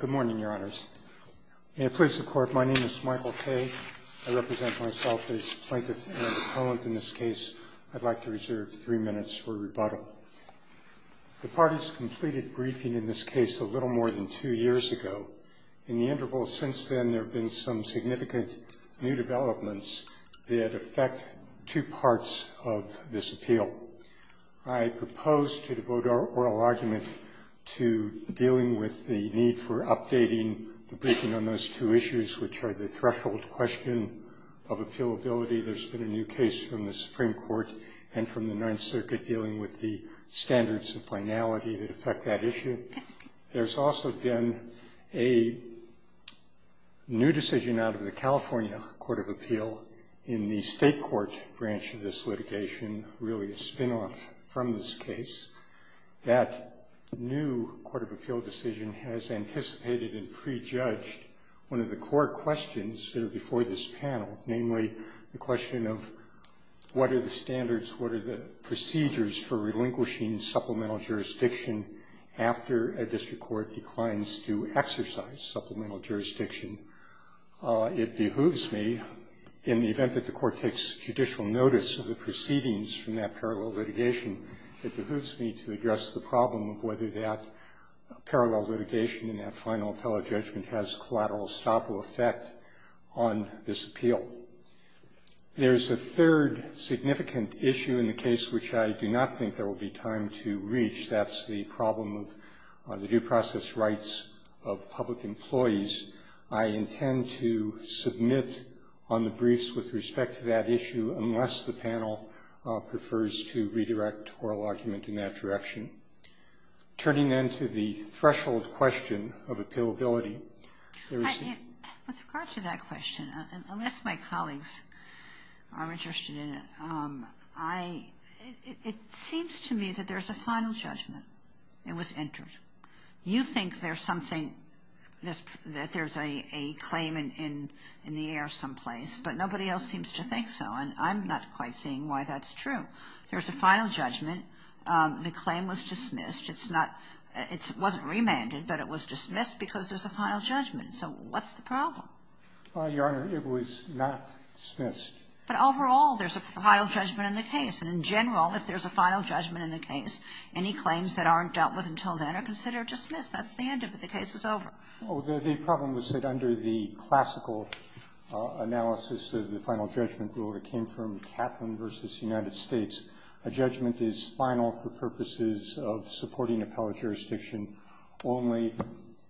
Good morning, Your Honors. May it please the Court, my name is Michael Kaye. I represent myself as Plaintiff Aaron McCollum. In this case, I'd like to reserve three minutes for rebuttal. The parties completed briefing in this case a little more than two years ago. In the interval since then, there have been some significant new developments that affect two parts of this appeal. I propose to devote our oral argument to dealing with the need for updating the briefing on those two issues, which are the threshold question of appealability. There's been a new case from the Supreme Court and from the Ninth Circuit dealing with the standards of finality that affect that issue. There's also been a new decision out of the California Court of Appeal in the State Court branch of this litigation, really a spin-off from this case. That new Court of Appeal decision has anticipated and prejudged one of the core questions that are before this panel, namely the question of what are the standards, what are the procedures for relinquishing supplemental jurisdiction after a district court declines to exercise supplemental jurisdiction. It behooves me, in the event that the court takes judicial notice of the proceedings from that parallel litigation, it behooves me to address the problem of whether that parallel litigation in that final appellate judgment has collateral stoppable effect on this appeal. There's a third significant issue in the case which I do not think there will be time to reach. That's the problem of the due process rights of public employees. I intend to submit on the briefs with respect to that issue unless the panel prefers to redirect oral argument in that direction. Turning then to the threshold question of appealability, there is the question unless my colleagues are interested in it, I, it seems to me that there's a final judgment. It was entered. You think there's something, that there's a claim in the air someplace, but nobody else seems to think so, and I'm not quite seeing why that's true. There's a final judgment. The claim was dismissed. It's not, it wasn't remanded, but it was dismissed because there's a final judgment. So what's the problem? Your Honor, it was not dismissed. But overall, there's a final judgment in the case. And in general, if there's a final judgment in the case, any claims that aren't dealt with until then are considered dismissed. That's the end of it. The case is over. The problem is that under the classical analysis of the final judgment rule that came from Kaplan v. United States, a judgment is final for purposes of supporting an appellate jurisdiction only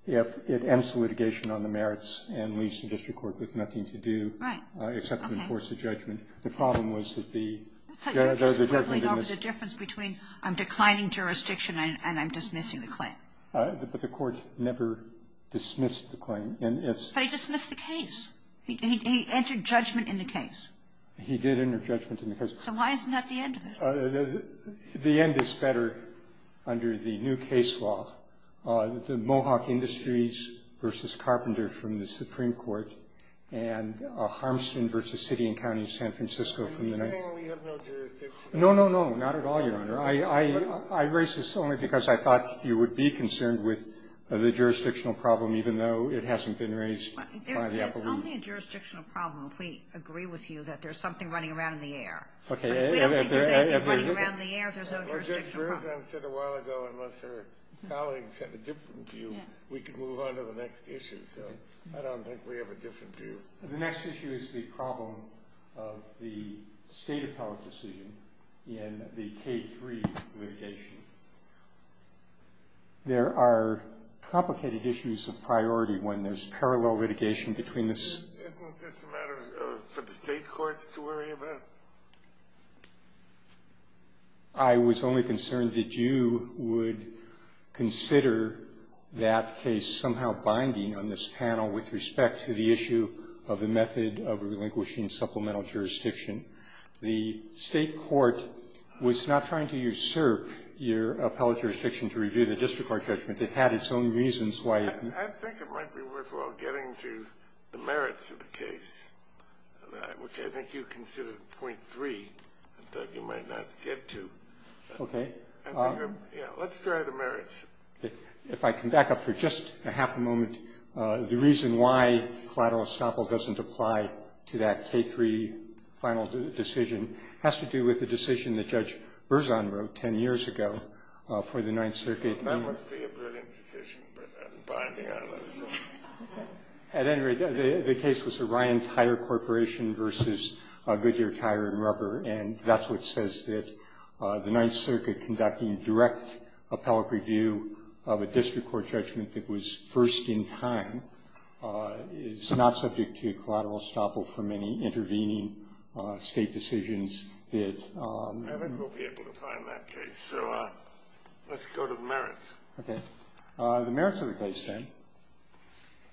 if it ends the litigation on the merits and leaves the district court with nothing to do except to enforce the judgment. The problem was that the judgment in this ---- Kagan. I'm just quibbling over the difference between I'm declining jurisdiction and I'm dismissing the claim. But the court never dismissed the claim. But he dismissed the case. He entered judgment in the case. He did enter judgment in the case. So why isn't that the end of it? The end is better under the new case law, the Mohawk Industries v. Carpenter from the Supreme Court and Harmston v. City and County of San Francisco from the United States. No, no, no. Not at all, Your Honor. I raise this only because I thought you would be concerned with the jurisdictional problem, even though it hasn't been raised by the appellate. It's only a jurisdictional problem if we agree with you that there's something running around in the air. Okay. We agree that there's something running around in the air, so it's a jurisdictional problem. Well, Judge Berzahn said a while ago, unless her colleagues have a different view, we can move on to the next issue. So I don't think we have a different view. The next issue is the problem of the State appellate decision in the K-3 litigation. There are complicated issues of priority when there's parallel litigation between the ---- Isn't this a matter for the State courts to worry about? I was only concerned that you would consider that case somehow binding on this panel with respect to the issue of the method of relinquishing supplemental jurisdiction. The State court was not trying to usurp your appellate jurisdiction to review the district court judgment. It had its own reasons why it ---- I think it might be worthwhile getting to the merits of the case, which I think you considered point three that you might not get to. Okay. Let's try the merits. If I can back up for just a half a moment, the reason why collateral estoppel doesn't apply to that K-3 final decision has to do with the decision that Judge Berzahn wrote 10 years ago for the Ninth Circuit. That must be a brilliant decision, binding on this. At any rate, the case was the Ryan Tire Corporation versus Goodyear Tire and Rubber, and that's what says that the Ninth Circuit conducting direct appellate review of a district court judgment that was first in time is not subject to collateral estoppel from any intervening State decisions that ---- So let's go to the merits. Okay. The merits of the case, then,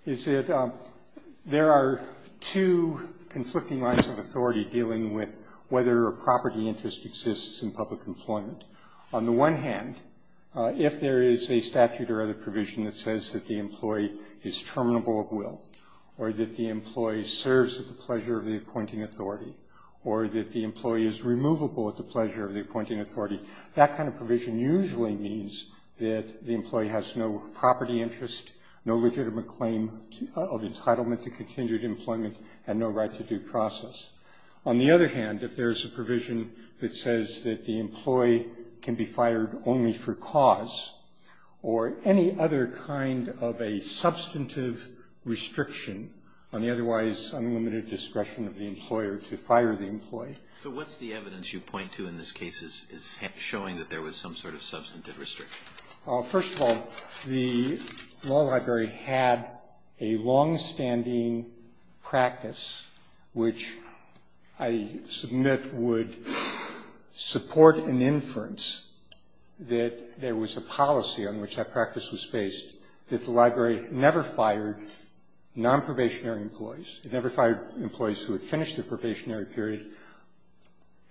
is that there are two conflicting lines of authority dealing with whether a property interest exists in public employment. On the one hand, if there is a statute or other provision that says that the employee is terminable at will or that the employee serves at the pleasure of the appointing authority or that the employee is removable at the pleasure of the appointing authority, that kind of provision usually means that the employee has no property interest, no legitimate claim of entitlement to continued employment, and no right to due process. On the other hand, if there is a provision that says that the employee can be fired only for cause or any other kind of a substantive restriction on the otherwise unlimited discretion of the employer to fire the employee. So what's the evidence you point to in this case is showing that there was some sort of substantive restriction? First of all, the law library had a longstanding practice which I submit would support an inference that there was a policy on which that practice was based, that the library never fired nonprobationary employees. It never fired employees who had finished their probationary period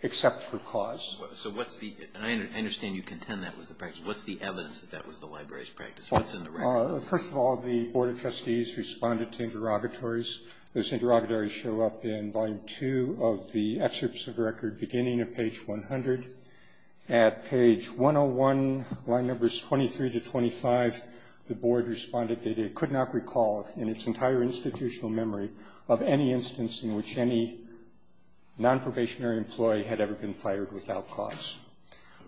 except for cause. So what's the – and I understand you contend that was the practice. What's the evidence that that was the library's practice? What's in the record? First of all, the Board of Trustees responded to interrogatories. Those interrogatories show up in Volume 2 of the excerpts of the record beginning at page 100. At page 101, line numbers 23 to 25, the Board responded that it could not recall in its entire institutional memory of any instance in which any nonprobationary employee had ever been fired without cause.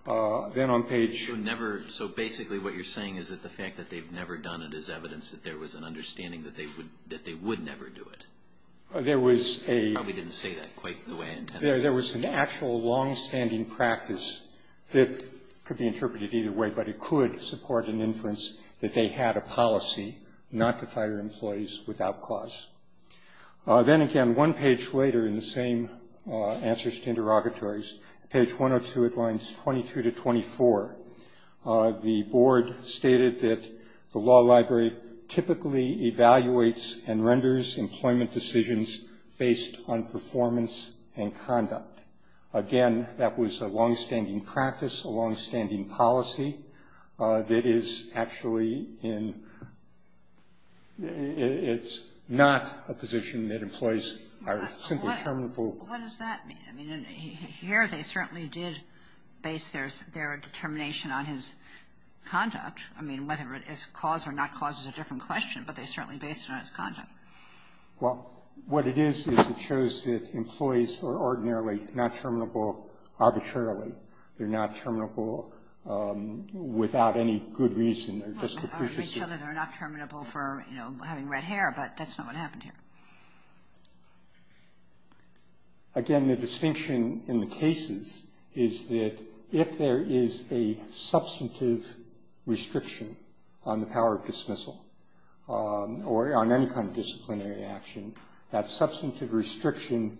Then on page – So basically what you're saying is that the fact that they've never done it is evidence that there was an understanding that they would never do it. There was a – I probably didn't say that quite the way intended. There was an actual longstanding practice that could be interpreted either way, but it could support an inference that they had a policy not to fire employees without cause. Then again, one page later in the same answers to interrogatories, page 102 at lines 22 to 24, the Board stated that the law library typically evaluates and Again, that was a longstanding practice, a longstanding policy that is actually in – it's not a position that employees are simply terminable. Well, what does that mean? I mean, here they certainly did base their determination on his conduct. I mean, whether it is cause or not cause is a different question, but they certainly based it on his conduct. Well, what it is is it shows that employees are ordinarily not terminable arbitrarily. They're not terminable without any good reason. They're just – They're not terminable for having red hair, but that's not what happened here. Again, the distinction in the cases is that if there is a substantive restriction on the power of dismissal or on any kind of disciplinary action, that substantive restriction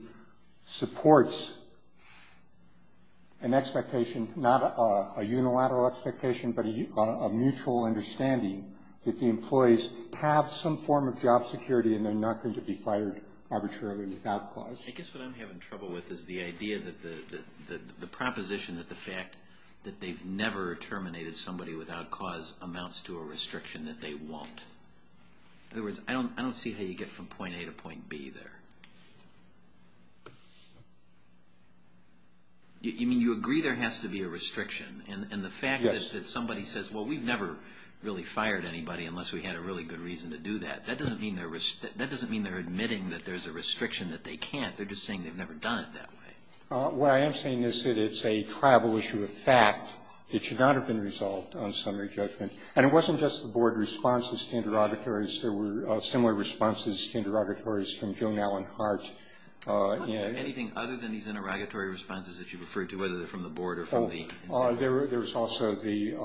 supports an expectation, not a unilateral expectation, but a mutual understanding that the employees have some form of job security and they're not going to be fired arbitrarily without cause. I guess what I'm having trouble with is the idea that the proposition that the fact that they've never terminated somebody without cause amounts to a restriction that they won't. In other words, I don't see how you get from point A to point B there. You mean you agree there has to be a restriction, and the fact that somebody says, well, we've never really fired anybody unless we had a really good reason to do that, that doesn't mean they're admitting that there's a restriction that they can't. They're just saying they've never done it that way. What I am saying is that it's a tribal issue of fact. It should not have been resolved on summary judgment. And it wasn't just the board responses to interrogatories. There were similar responses to interrogatories from Joan Allen Hart. Are there anything other than these interrogatory responses that you referred to, whether they're from the board or from the- There was also the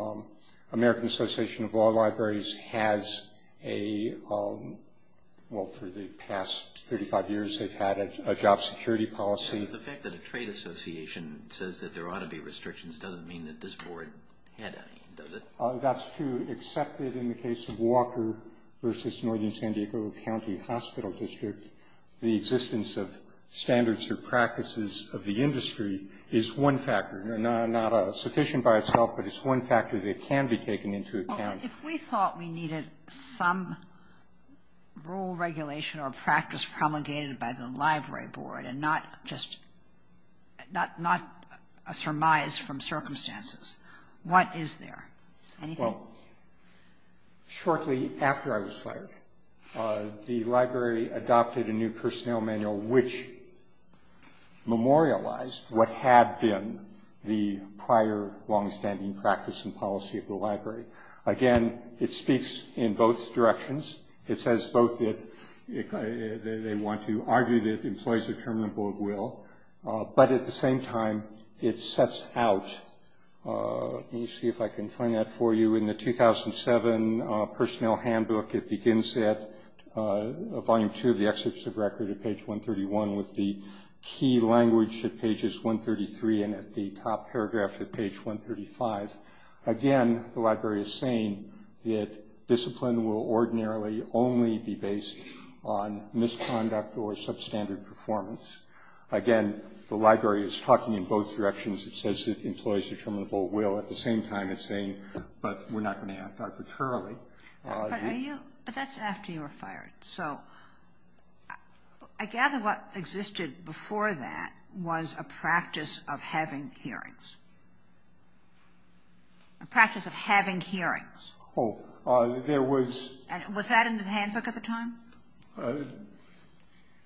American Association of Law Libraries has a, well, for the past 35 years they've had a job security policy. The fact that a trade association says that there ought to be restrictions doesn't mean that this board had any, does it? That's true, except that in the case of Walker versus Northern San Diego County Hospital District, the existence of standards or practices of the industry is one factor. Not sufficient by itself, but it's one factor that can be taken into account. If we thought we needed some rule regulation or practice promulgated by the library board and not just, not a surmise from circumstances, what is there? Anything? Well, shortly after I was fired, the library adopted a new personnel manual which memorialized what had been the prior longstanding practice and policy of the library. Again, it speaks in both directions. It says both that they want to argue that employees are terminable at will, but at the same time it sets out, let me see if I can find that for you, in the 2007 personnel handbook it begins at volume two of the excerpts of record at page 131 with the key language at pages 133 and at the top paragraph at page 135. Again, the library is saying that discipline will ordinarily only be based on misconduct or substandard performance. Again, the library is talking in both directions. It says that employees are terminable at will. At the same time, it's saying, but we're not going to act arbitrarily. But that's after you were fired. So I gather what existed before that was a practice of having hearings. A practice of having hearings. Oh, there was. Was that in the handbook at the time?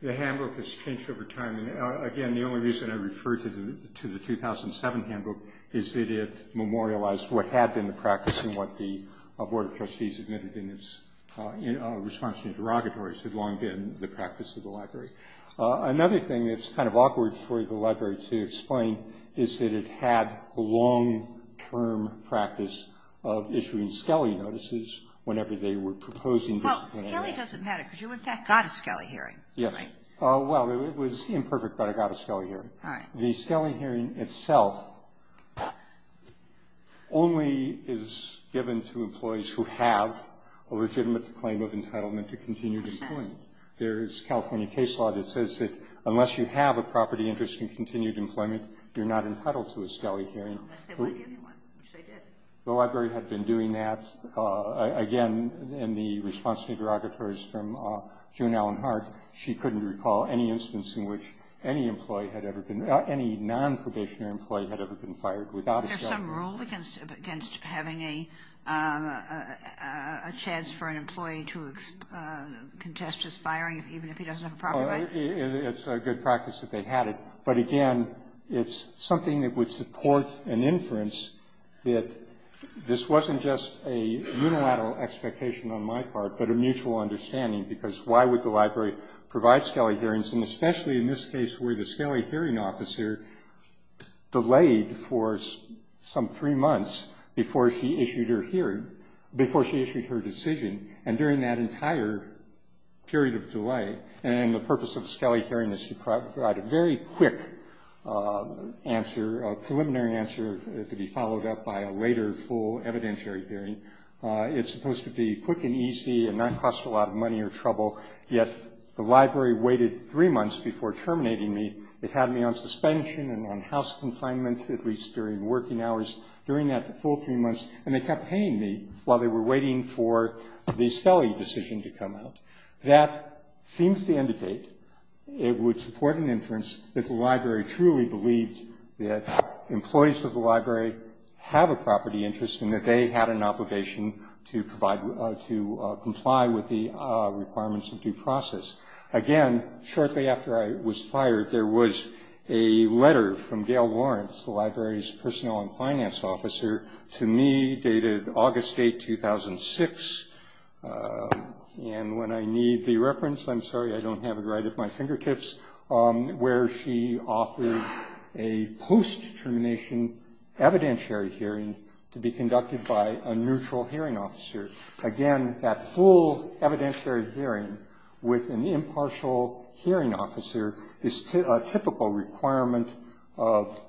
The handbook has changed over time. Again, the only reason I refer to the 2007 handbook is that it memorialized what had been the practice and what the Board of Trustees admitted in its response to the derogatories had long been the practice of the library. Another thing that's kind of awkward for the library to explain is that it had the long-term practice of issuing Skelly notices whenever they were proposing disciplinary law. Well, Skelly doesn't matter because you, in fact, got a Skelly hearing. Yes. Well, it was imperfect, but I got a Skelly hearing. All right. The Skelly hearing itself only is given to employees who have a legitimate claim of entitlement to continued employment. There is California case law that says that unless you have a property interest in continued employment, you're not entitled to a Skelly hearing. Unless they lied to anyone, which they did. The library had been doing that. Again, in the response to the derogatories from June Allen Hart, she couldn't recall any instance in which any employee had ever been, any non-probationary employee had ever been fired without a Skelly hearing. Is there some rule against having a chance for an employee to contest his firing even if he doesn't have a property right? It's a good practice that they had it. But, again, it's something that would support an inference that this wasn't just a unilateral expectation on my part, but a mutual understanding. Because why would the library provide Skelly hearings, and especially in this case where the Skelly hearing officer delayed for some three months before she issued her hearing, before she issued her decision, and during that entire period of delay. And the purpose of a Skelly hearing is to provide a very quick answer, a preliminary answer to be followed up by a later full evidentiary hearing. It's supposed to be quick and easy and not cost a lot of money or trouble, yet the library waited three months before terminating me. It had me on suspension and on house confinement, at least during working hours, during that full three months. And they kept paying me while they were waiting for the Skelly decision to come out. That seems to indicate it would support an inference that the library truly believed that employees of the library have a property interest and that they had an obligation to comply with the requirements of due process. Again, shortly after I was fired, there was a letter from Gail Lawrence, the library's personnel and finance officer, to me dated August 8, 2006. And when I need the reference, I'm sorry, I don't have it right at my fingertips, where she offered a post-termination evidentiary hearing to be conducted by a neutral hearing officer. Again, that full evidentiary hearing with an impartial hearing officer is a typical requirement of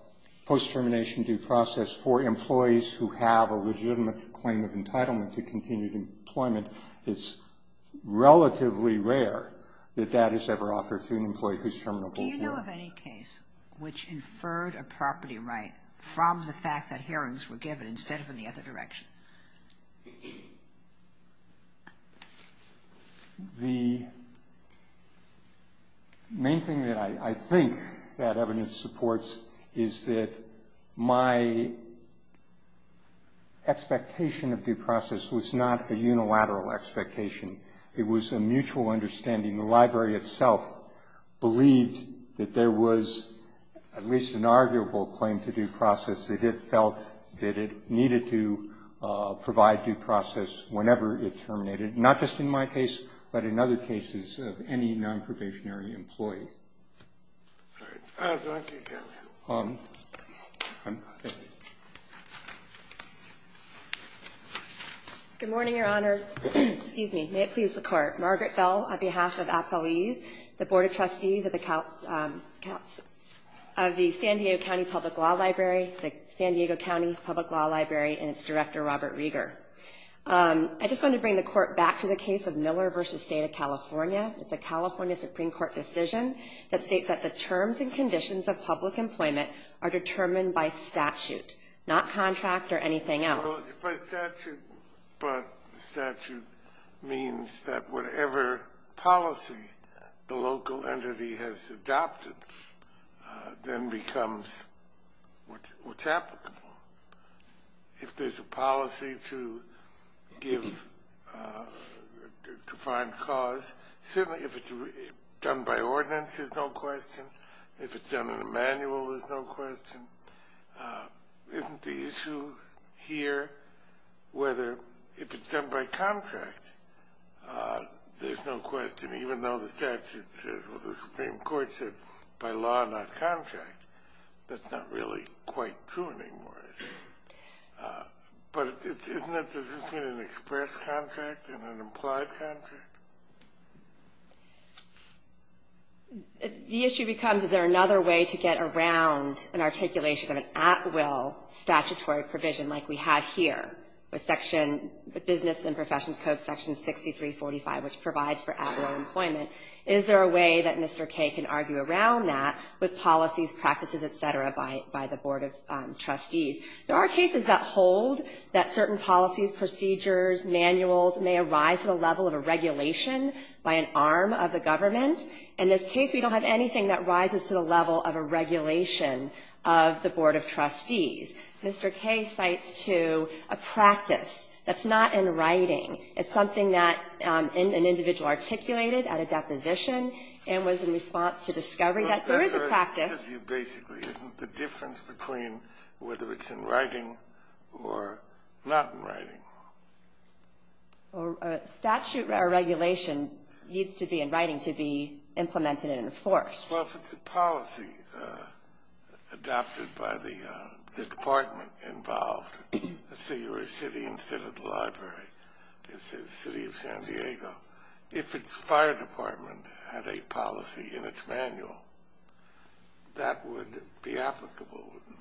post-termination due process for employees who have a legitimate claim of entitlement to continued employment. It's relatively rare that that is ever offered to an employee who's terminable here. Do you know of any case which inferred a property right from the fact that hearings were given instead of in the other direction? The main thing that I think that evidence supports is that my expectation of due process was not a unilateral expectation. It was a mutual understanding. The library itself believed that there was at least an arguable claim to due process, that it felt that it needed to provide due process whenever it terminated, not just in my case, but in other cases of any non-probationary employee. All right. Thank you, counsel. Good morning, Your Honor. Excuse me. May it please the Court. Margaret Bell, on behalf of athlees, the Board of Trustees of the San Diego County Public Law Library, the San Diego County Public Law Library, and its director, Robert Rieger. I just want to bring the Court back to the case of Miller v. State of California. It's a California Supreme Court decision that states that the terms and conditions of public employment are determined by statute, not contract or anything else. Well, it's by statute, but statute means that whatever policy the local entity has adopted then becomes what's applicable. If there's a policy to find cause, certainly if it's done by ordinance, there's no question. If it's done in a manual, there's no question. Isn't the issue here whether if it's done by contract, there's no question, even though the statute says, well, the Supreme Court said by law, not contract. That's not really quite true anymore, I think. But isn't this an express contract and an implied contract? The issue becomes, is there another way to get around an articulation of an at-will statutory provision like we have here with business and professions code section 6345, which provides for at-will employment? Is there a way that Mr. Kay can argue around that with policies, practices, et cetera, by the Board of Trustees? There are cases that hold that certain policies, procedures, manuals may arise at a level of a regulation by an arm of the government. In this case, we don't have anything that rises to the level of a regulation of the Board of Trustees. Mr. Kay cites, too, a practice that's not in writing. It's something that an individual articulated at a deposition and was in response to discovery that there is a practice. Well, that's where it hits you, basically. Isn't the difference between whether it's in writing or not in writing? A statute or regulation needs to be in writing to be implemented and enforced. Well, if it's a policy adopted by the department involved, let's say you're a city instead of the library. It's the city of San Diego. If its fire department had a policy in its manual, that would be applicable, wouldn't it?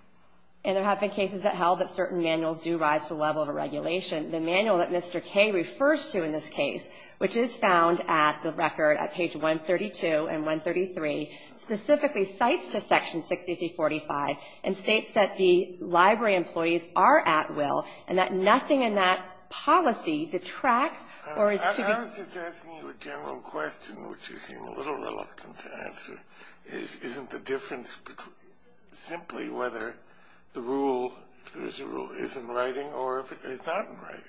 And there have been cases that held that certain manuals do rise to the level of a regulation. The manual that Mr. Kay refers to in this case, which is found at the record at page 132 and 133, specifically cites to Section 6345 and states that the library employees are at will and that nothing in that policy detracts or is to be ---- I was just asking you a general question, which you seem a little reluctant to answer, isn't the difference simply whether the rule, if there's a rule, is in writing or if it's not in writing?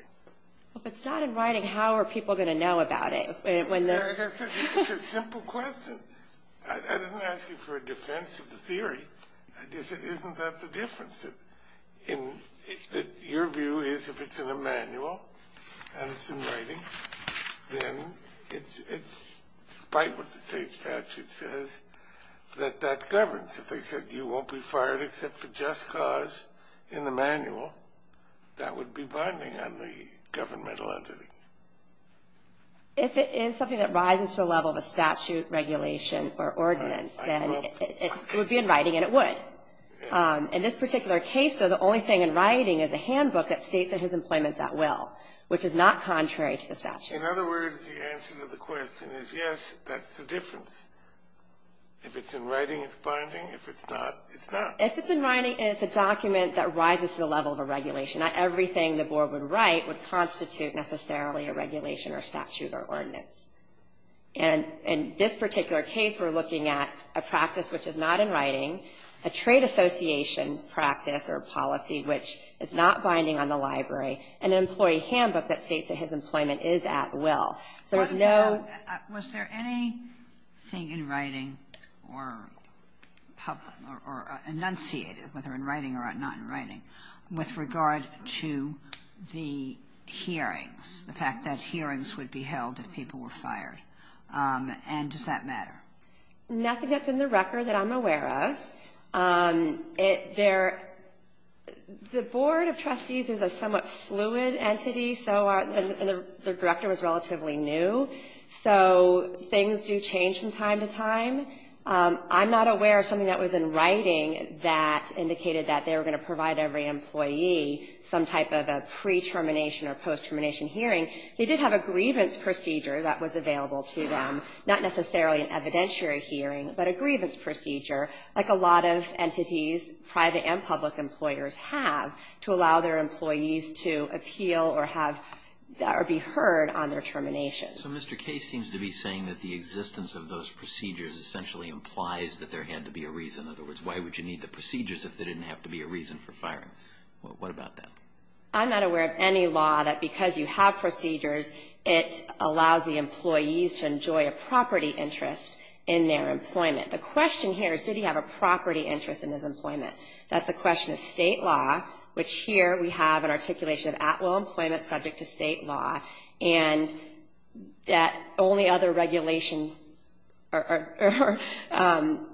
If it's not in writing, how are people going to know about it? It's a simple question. I didn't ask you for a defense of the theory. I just said, isn't that the difference? Your view is if it's in a manual and it's in writing, then it's in spite of what the state statute says that that governs. If they said you won't be fired except for just cause in the manual, that would be binding on the governmental entity. If it is something that rises to the level of a statute regulation or ordinance, then it would be in writing and it would. In this particular case, though, the only thing in writing is a handbook that states that his employment is at will, which is not contrary to the statute. In other words, the answer to the question is yes, that's the difference. If it's in writing, it's binding. If it's not, it's not. If it's in writing and it's a document that rises to the level of a regulation, not everything the board would write would constitute necessarily a regulation or statute or ordinance. And in this particular case, we're looking at a practice which is not in writing, a trade association practice or policy which is not binding on the library, and an employee handbook that states that his employment is at will. So there's no ‑‑ Was there anything in writing or enunciated, whether in writing or not in writing, with regard to the hearings, the fact that hearings would be held if people were fired? And does that matter? Nothing that's in the record that I'm aware of. It ‑‑ there ‑‑ the board of trustees is a somewhat fluid entity, so are ‑‑ and the director was relatively new. So things do change from time to time. I'm not aware of something that was in writing that indicated that they were going to provide every employee some type of a pre-termination or post-termination hearing. They did have a grievance procedure that was available to them, not necessarily an evidentiary hearing, but a grievance procedure, like a lot of entities, private and public employers have, to allow their employees to appeal or have ‑‑ or be heard on their termination. So Mr. Case seems to be saying that the existence of those procedures essentially implies that there had to be a reason. In other words, why would you need the procedures if there didn't have to be a reason for firing? What about that? I'm not aware of any law that, because you have procedures, it allows the employees to enjoy a property interest in their employment. The question here is, did he have a property interest in his employment? That's a question of state law, which here we have an articulation of at will employment subject to state law, and that only other regulation or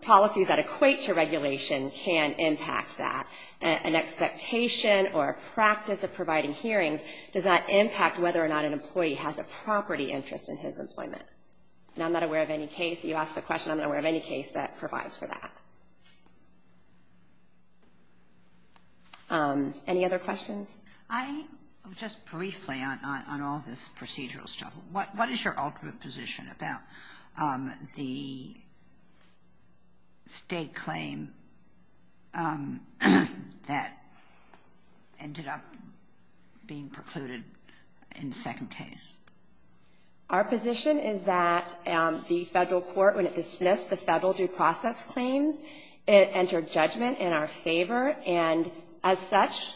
policies that equate to regulation can impact that. An expectation or a practice of providing hearings does not impact whether or not an employee has a property interest in his employment. And I'm not aware of any case, you asked the question, I'm not aware of any case that provides for that. Any other questions? I, just briefly on all this procedural stuff, what is your ultimate position about the state claim that ended up being precluded in the second case? Our position is that the federal court, when it dismissed the federal due process claims, it entered judgment in our favor and, as such,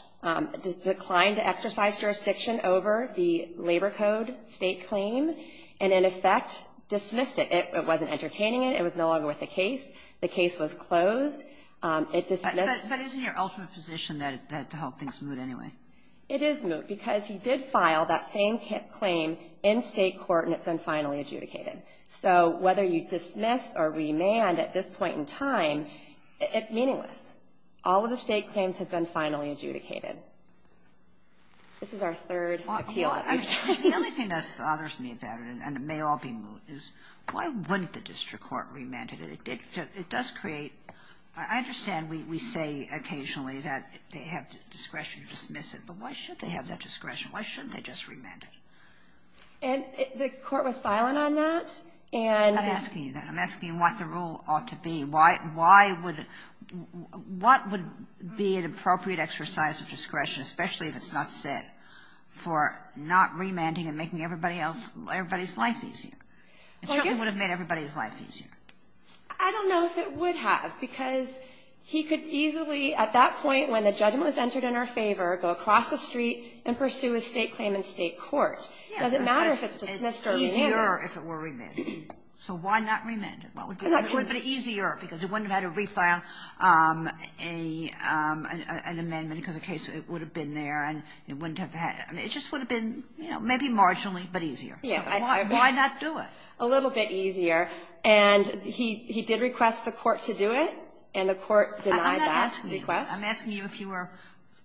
declined to exercise jurisdiction over the labor code state claim and, in effect, dismissed it. It wasn't entertaining it. It was no longer worth a case. The case was closed. It dismissed the state claim. But isn't your ultimate position that the whole thing's moot anyway? It is moot because he did file that same claim in state court, and it's been finally adjudicated. So whether you dismiss or remand at this point in time, it's meaningless. All of the state claims have been finally adjudicated. This is our third appeal at this time. The only thing that bothers me about it, and it may all be moot, is why wouldn't the district court remand it? It does create — I understand we say occasionally that they have discretion to dismiss it, but why should they have that discretion? Why shouldn't they just remand it? And the court was silent on that, and — I'm not asking you that. I'm asking you what the rule ought to be. I mean, why would — what would be an appropriate exercise of discretion, especially if it's not set, for not remanding and making everybody else — everybody's life easier? It certainly would have made everybody's life easier. I don't know if it would have, because he could easily, at that point when the judgment was entered in our favor, go across the street and pursue a state claim in state court. It doesn't matter if it's dismissed or remanded. It's easier if it were remanded. So why not remand it? It would have been easier because it wouldn't have had to refile an amendment because the case would have been there, and it wouldn't have had — it just would have been, you know, maybe marginally, but easier. So why not do it? A little bit easier. And he did request the court to do it, and the court denied that request. I'm not asking you. I'm asking you if you were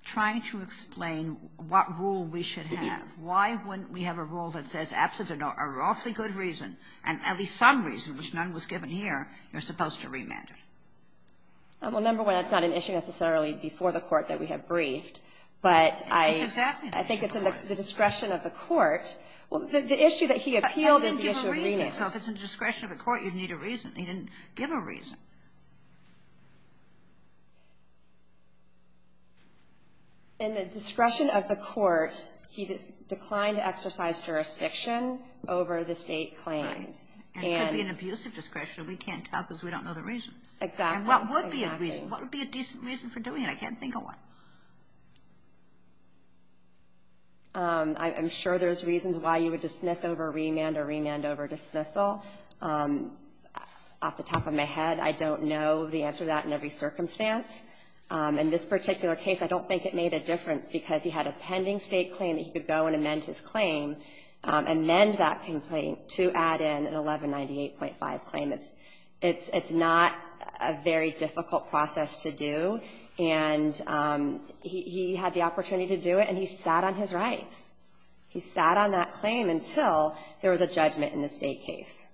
trying to explain what rule we should have. Why wouldn't we have a rule that says, absent an awfully good reason, and at least some reason, which none was given here, you're supposed to remand it? Well, number one, that's not an issue necessarily before the court that we have briefed, but I think it's in the discretion of the court. The issue that he appealed is the issue of remand. I didn't give a reason. So if it's in the discretion of the court, you need a reason. He didn't give a reason. In the discretion of the court, he declined to exercise jurisdiction over the State claims. And it could be an abusive discretion. We can't tell because we don't know the reason. Exactly. And what would be a reason? What would be a decent reason for doing it? I can't think of one. I'm sure there's reasons why you would dismiss over remand or remand over dismissal. Off the top of my head, I don't know the answer to that in every circumstance. In this particular case, I don't think it made a difference because he had a pending State claim that he could go and amend his claim, amend that complaint to add in an 1198.5 claim. It's not a very difficult process to do. And he had the opportunity to do it, and he sat on his rights. He sat on that claim until there was a judgment in the State case.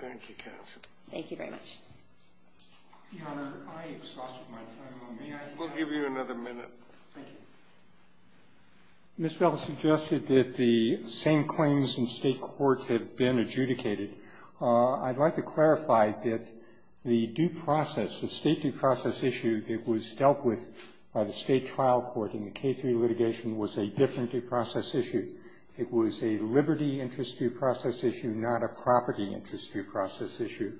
Thank you, counsel. Thank you very much. Your Honor, I exhausted my time. May I? We'll give you another minute. Thank you. Ms. Bell suggested that the same claims in State court had been adjudicated. I'd like to clarify that the due process, the State due process issue that was dealt with by the State trial court in the K-3 litigation was a different due process issue. It was a liberty interest due process issue, not a property interest due process issue.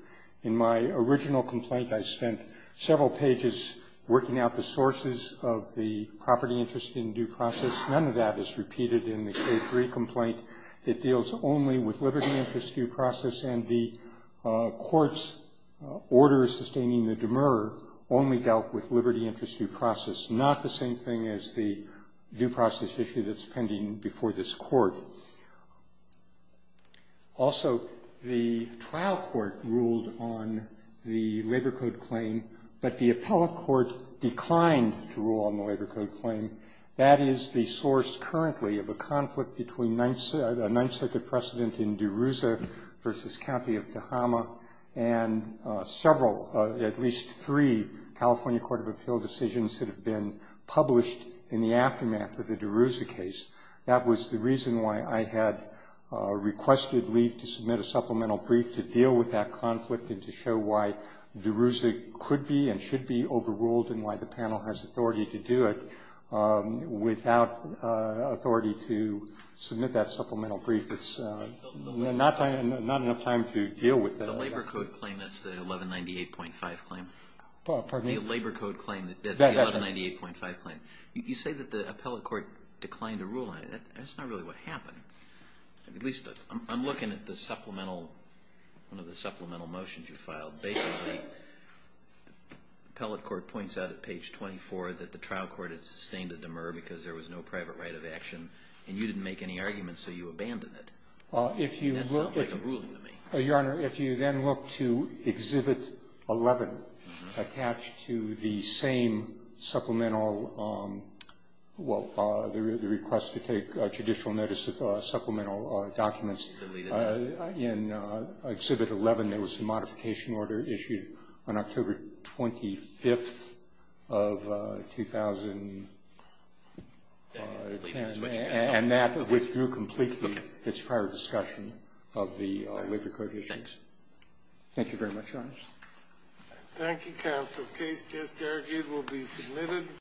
In my original complaint, I spent several pages working out the sources of the property interest in due process. None of that is repeated in the K-3 complaint. It deals only with liberty interest due process, and the court's order sustaining the demurrer only dealt with liberty interest due process, not the same thing as the due process issue that's pending before this Court. Also, the trial court ruled on the Labor Code claim, but the appellate court declined to rule on the Labor Code claim. That is the source currently of a conflict between a Ninth Circuit precedent in at least three California Court of Appeal decisions that have been published in the aftermath of the DeRouza case. That was the reason why I had requested LEAF to submit a supplemental brief to deal with that conflict and to show why DeRouza could be and should be overruled and why the panel has authority to do it. Without authority to submit that supplemental brief, it's not enough time to deal with that. The Labor Code claim, that's the 1198.5 claim. Pardon me? The Labor Code claim, that's the 1198.5 claim. You say that the appellate court declined to rule on it. That's not really what happened. At least, I'm looking at the supplemental, one of the supplemental motions you filed. Basically, the appellate court points out at page 24 that the trial court has sustained a demurrer because there was no private right of action, and you didn't make any arguments, so you abandoned it. That sounds like a ruling to me. Your Honor, if you then look to Exhibit 11, attached to the same supplemental well, the request to take judicial notice of supplemental documents, in Exhibit 11, there was a modification order issued on October 25th of 2010, and that withdrew completely its prior discussion of the Labor Code issuance. Thank you very much, Your Honor. Thank you, counsel. Case just argued will be submitted.